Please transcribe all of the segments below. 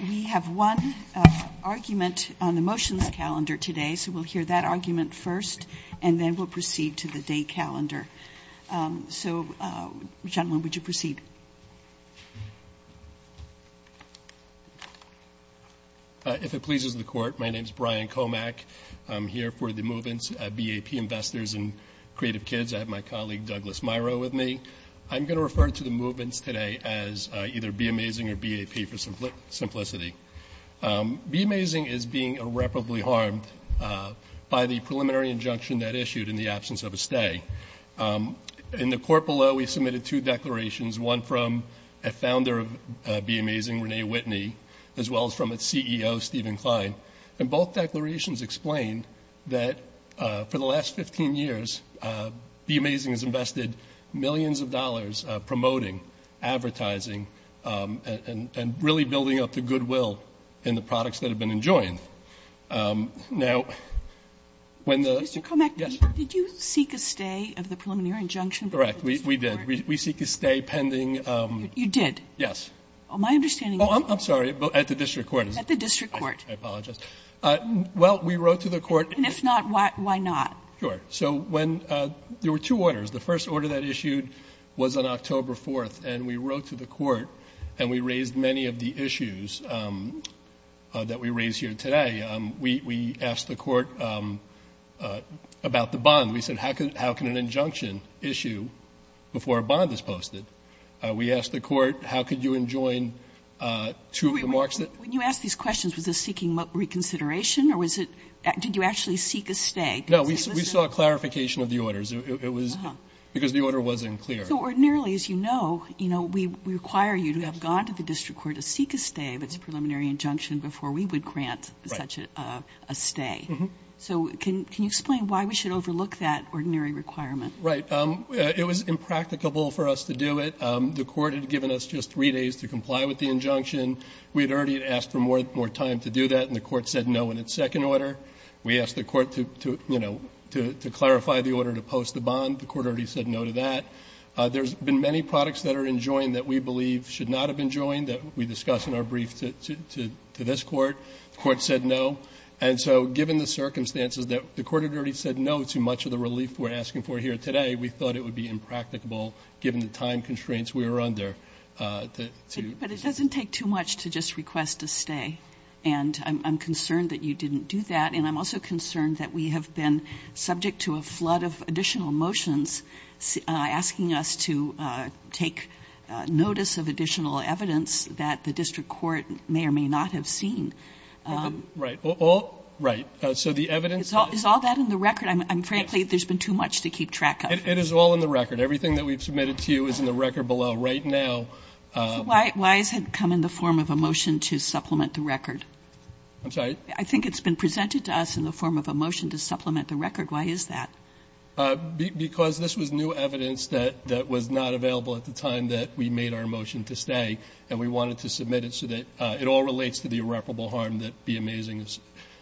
We have one argument on the motions calendar today, so we'll hear that argument first and then we'll proceed to the day calendar. So, gentlemen, would you proceed? If it pleases the Court, my name is Brian Komack. I'm here for the movements BAP Investors and Creative Kids. I have my colleague Douglas Miro with me. I'm going to refer to the movements today as either Be Amazing or BAP for simplicity. Be Amazing is being irreparably harmed by the preliminary injunction that issued in the absence of a stay. In the court below, we submitted two declarations, one from a founder of Be Amazing, Renee Whitney, as well as from its CEO, Stephen Klein. And both declarations explain that for the last 15 years, Be Amazing has invested millions of dollars promoting, advertising, and really building up the goodwill in the products that have been enjoined. Now, when the ---- Kagan. Mr. Komack, did you seek a stay of the preliminary injunction before the district court? Komack. Correct. We did. We seek a stay pending ---- Kagan. You did? Kagan. My understanding is that the district court ---- Komack. I'm sorry. At the district court. Kagan. At the district court. Komack. I apologize. Well, we wrote to the court ---- Kagan. And if not, why not? Komack. Sure. So when ---- there were two orders. The first order that issued was on October 4th, and we wrote to the court, and we raised many of the issues that we raise here today. We asked the court about the bond. We said, how can an injunction issue before a bond is posted? We asked the court, how could you enjoin two of the marks that ---- Kagan. When you asked these questions, was this seeking reconsideration, or was it ---- did you actually seek a stay? Komack. No. We saw a clarification of the orders. It was because the order wasn't clear. Kagan. So ordinarily, as you know, we require you to have gone to the district court to seek a stay if it's a preliminary injunction before we would grant such a stay. So can you explain why we should overlook that ordinary requirement? Komack. Right. It was impracticable for us to do it. The court had given us just three days to comply with the injunction. We had already asked for more time to do that, and the court said no in its second order. We asked the court to, you know, to clarify the order to post the bond. The court already said no to that. There's been many products that are enjoined that we believe should not have been enjoined that we discuss in our brief to this court. The court said no. And so given the circumstances that the court had already said no to much of the relief we're asking for here today, we thought it would be impracticable, given the time constraints we were under, to ---- I'm concerned that you didn't do that. And I'm also concerned that we have been subject to a flood of additional motions asking us to take notice of additional evidence that the district court may or may not have seen. Right. All right. So the evidence ---- Is all that in the record? Frankly, there's been too much to keep track of. It is all in the record. Everything that we've submitted to you is in the record below right now. I'm sorry. I think it's been presented to us in the form of a motion to supplement the record. Why is that? Because this was new evidence that was not available at the time that we made our motion to stay. And we wanted to submit it so that it all relates to the irreparable harm that the amazing ----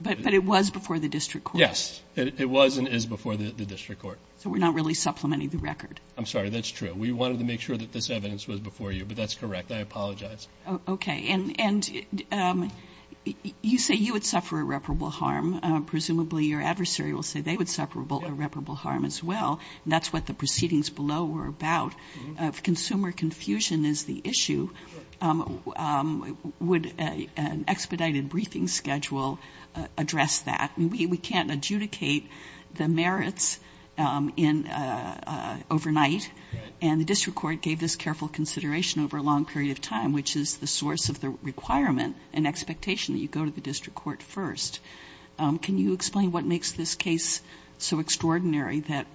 But it was before the district court. Yes. It was and is before the district court. So we're not really supplementing the record. I'm sorry. That's true. We wanted to make sure that this evidence was before you. But that's correct. I apologize. Okay. And you say you would suffer irreparable harm. Presumably your adversary will say they would suffer irreparable harm as well. And that's what the proceedings below were about. If consumer confusion is the issue, would an expedited briefing schedule address that? We can't adjudicate the merits overnight. And the district court gave this careful consideration over a long period of time, which is the source of the requirement and expectation that you go to the district court first. Can you explain what makes this case so extraordinary that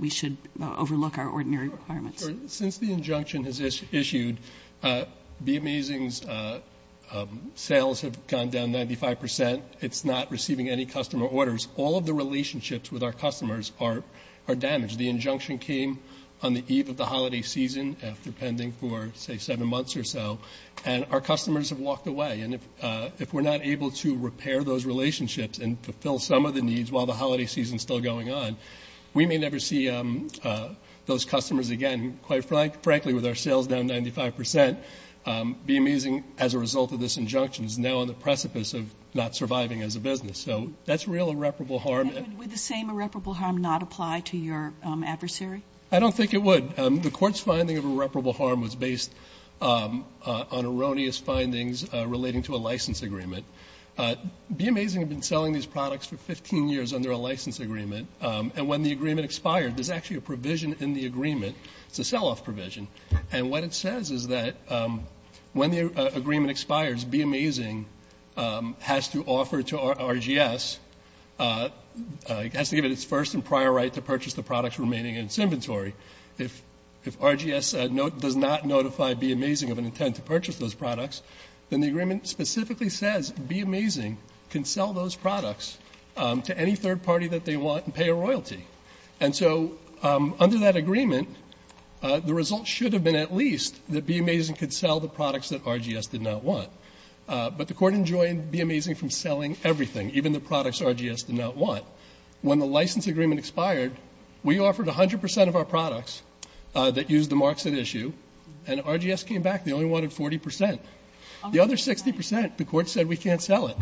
we should overlook our ordinary requirements? Since the injunction has issued, Be Amazing's sales have gone down 95 percent. It's not receiving any customer orders. All of the relationships with our customers are damaged. The injunction came on the eve of the holiday season after pending for, say, seven months or so. And our customers have walked away. And if we're not able to repair those relationships and fulfill some of the needs while the holiday season is still going on, we may never see those customers again. And quite frankly, with our sales down 95 percent, Be Amazing, as a result of this injunction, is now on the precipice of not surviving as a business. So that's real irreparable harm. And would the same irreparable harm not apply to your adversary? I don't think it would. The court's finding of irreparable harm was based on erroneous findings relating to a license agreement. Be Amazing had been selling these products for 15 years under a license agreement. And when the agreement expired, there's actually a provision in the agreement. It's a sell-off provision. And what it says is that when the RGS has to give it its first and prior right to purchase the products remaining in its inventory, if RGS does not notify Be Amazing of an intent to purchase those products, then the agreement specifically says Be Amazing can sell those products to any third party that they want and pay a royalty. And so under that agreement, the result should have been at least that Be Amazing could sell the products that RGS did not want. But the court enjoined Be Amazing from selling everything, even the products RGS did not want. When the license agreement expired, we offered 100 percent of our products that used the marks at issue, and RGS came back. They only wanted 40 percent. The other 60 percent, the court said we can't sell it.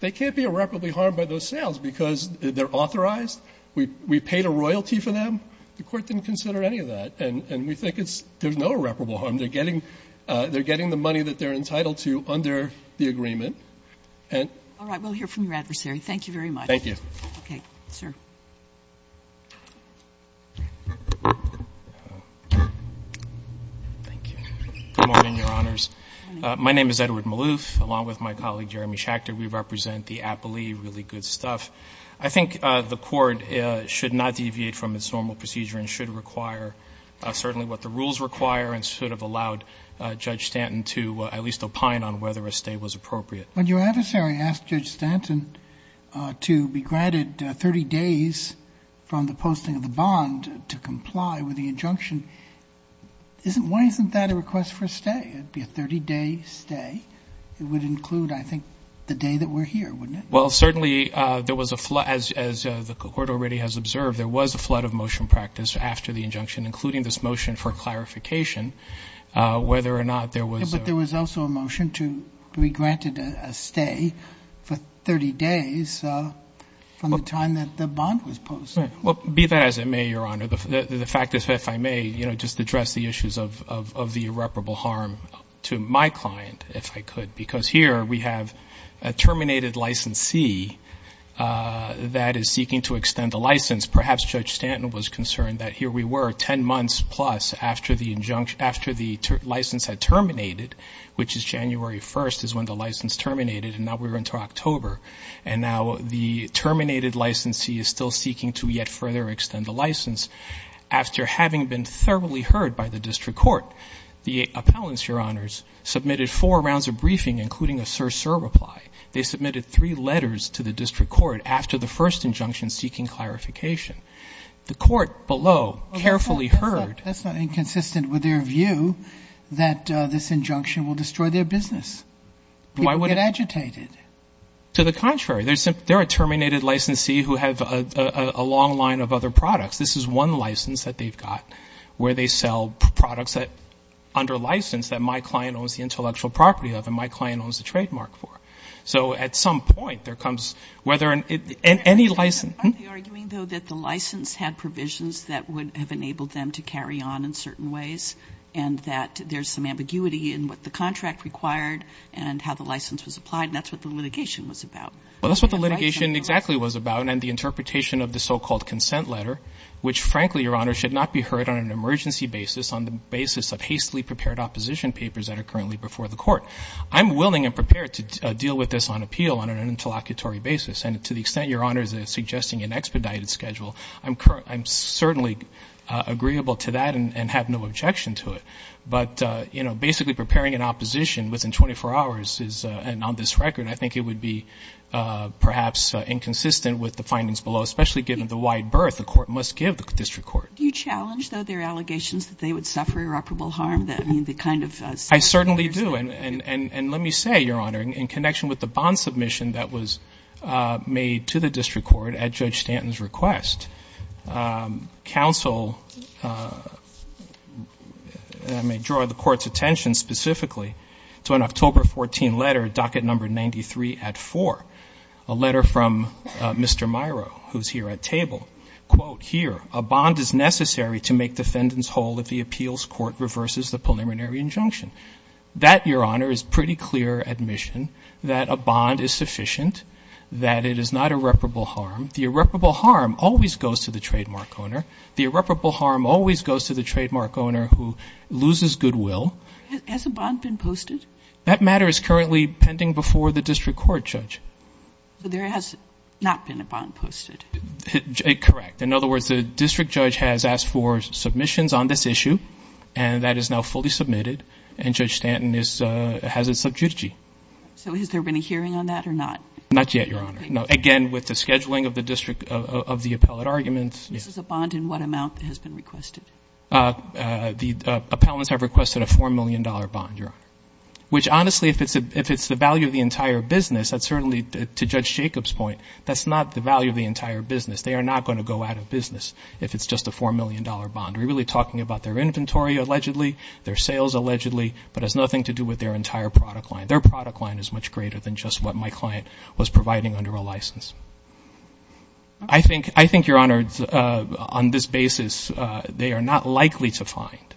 They can't be irreparably harmed by those sales because they're authorized. We paid a royalty for them. The court didn't consider any of that. And we think it's – there's no irreparable harm. They're getting the money that they're entitled to under the agreement. And – All right. We'll hear from your adversary. Thank you very much. Thank you. Okay. Sir. Good morning, Your Honors. My name is Edward Maloof, along with my colleague, Jeremy Schachter. We represent the Appley. Really good stuff. I think the court should not deviate from its normal procedure and should require certainly what the rules require and should have allowed Judge Stanton to at least opine on whether a stay was appropriate. When your adversary asked Judge Stanton to be granted 30 days from the posting of the bond to comply with the injunction, isn't – why isn't that a request for a stay? It would be a 30-day stay. It would include, I think, the day that we're here, wouldn't it? Well, certainly, there was a – as the court already has observed, there was a flood of motion practice after the injunction, including this motion for clarification, whether or not there was a – Yeah, but there was also a motion to be granted a stay for 30 days from the time that the bond was posted. Right. Well, be that as it may, Your Honor, the fact is, if I may, you know, just address the issues of the irreparable harm to my client, if I could, because here we have a terminated licensee that is seeking to extend the license. Perhaps Judge Stanton was concerned that here we were 10 months plus after the license had terminated, which is January 1st is when the license terminated, and now we're into October, and now the terminated licensee is still seeking to yet further extend the license. After having been thoroughly heard by the district court, the appellants, Your Honors, submitted four rounds of briefing, including a sir-sir reply. They submitted three letters to the district court after the first injunction seeking clarification. The court below carefully heard – Well, that's not inconsistent with their view that this injunction will destroy their business. People get agitated. To the contrary. They're a terminated licensee who have a long line of other products. This is one license that they've got where they sell products under license that my client owns the intellectual property of, and my client owns the trademark for. So at some point, there comes whether – Aren't they arguing, though, that the license had provisions that would have enabled them to carry on in certain ways, and that there's some ambiguity in what the contract required and how the license was applied, and that's what the litigation was about? Well, that's what the litigation exactly was about, and the interpretation of the so-called consent letter, which, frankly, Your Honor, should not be heard on an emergency basis on the basis of hastily prepared opposition papers that are currently before the court. I'm willing and prepared to deal with this on appeal on an interlocutory basis, and to the extent Your Honor is suggesting an expedited schedule, I'm certainly agreeable to that and have no objection to it. But, you know, basically preparing an opposition within 24 hours is – and on this record, I think it would be perhaps inconsistent with the findings below, especially given the wide berth the court must give the district court. Do you challenge, though, their allegations that they would suffer irreparable harm? I mean, the kind of – I certainly do, and let me say, Your Honor, in connection with the bond submission that was made to the district court at Judge Stanton's request, counsel – I may draw the court's attention specifically to an October 14 letter, docket number 93 at 4, a letter from Mr. Miro, who's here at table. Quote, here, a bond is necessary to make defendants whole if the appeals court reverses the preliminary injunction. That, Your Honor, is pretty clear admission that a bond is sufficient, that it is not irreparable harm. The irreparable harm always goes to the trademark owner. The irreparable harm always goes to the trademark owner who loses goodwill. Has a bond been posted? That matter is currently pending before the district court, Judge. So there has not been a bond posted? Correct. In other words, the district judge has asked for submissions on this issue, and that is now fully submitted, and Judge Stanton has it sub judici. So has there been a hearing on that or not? Not yet, Your Honor. Again, with the scheduling of the district – of the appellate arguments. This is a bond, and what amount has been requested? The appellants have requested a $4 million bond, Your Honor. Which, honestly, if it's the value of the entire business, that's certainly, to Judge Jacob's point, that's not the value of the entire business. They are not going to go out of business if it's just a $4 million bond. We're really talking about their inventory, allegedly, their sales, allegedly, but it has nothing to do with their entire product line. Their product line is much greater than just what my client was providing under a license. I think, Your Honor, on this basis, they are not likely to find –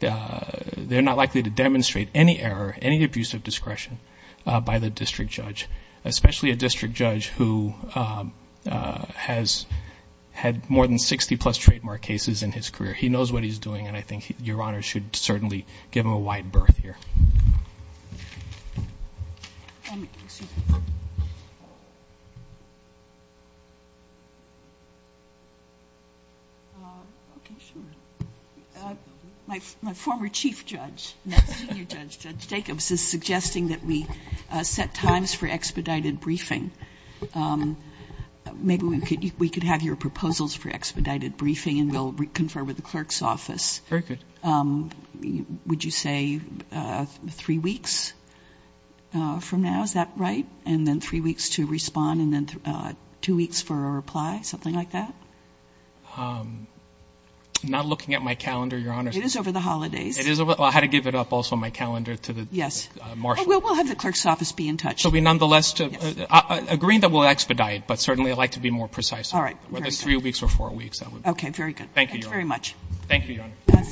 they're not likely to demonstrate any error, any abuse of discretion by the district judge, especially a district judge who has had more than 60-plus trademark cases in his career. He knows what he's doing, and I think Your Honor should certainly give him a wide berth here. Okay, sure. My former chief judge, now senior judge, Judge Jacobs, is suggesting that we set times for expedited briefing. Maybe we could have your proposals for expedited briefing, and we'll confer with the clerk's office. Very good. Would you say three weeks from now, is that right? And then three weeks to respond, and then two weeks for a reply, something like that? I'm not looking at my calendar, Your Honor. It is over the holidays. I had to give it up also, my calendar, to the marshal. We'll have the clerk's office be in touch. So we nonetheless – agreeing that we'll expedite, but certainly I'd like to be more precise. Whether it's three weeks or four weeks, that would be good. Okay, very good. Thank you, Your Honor.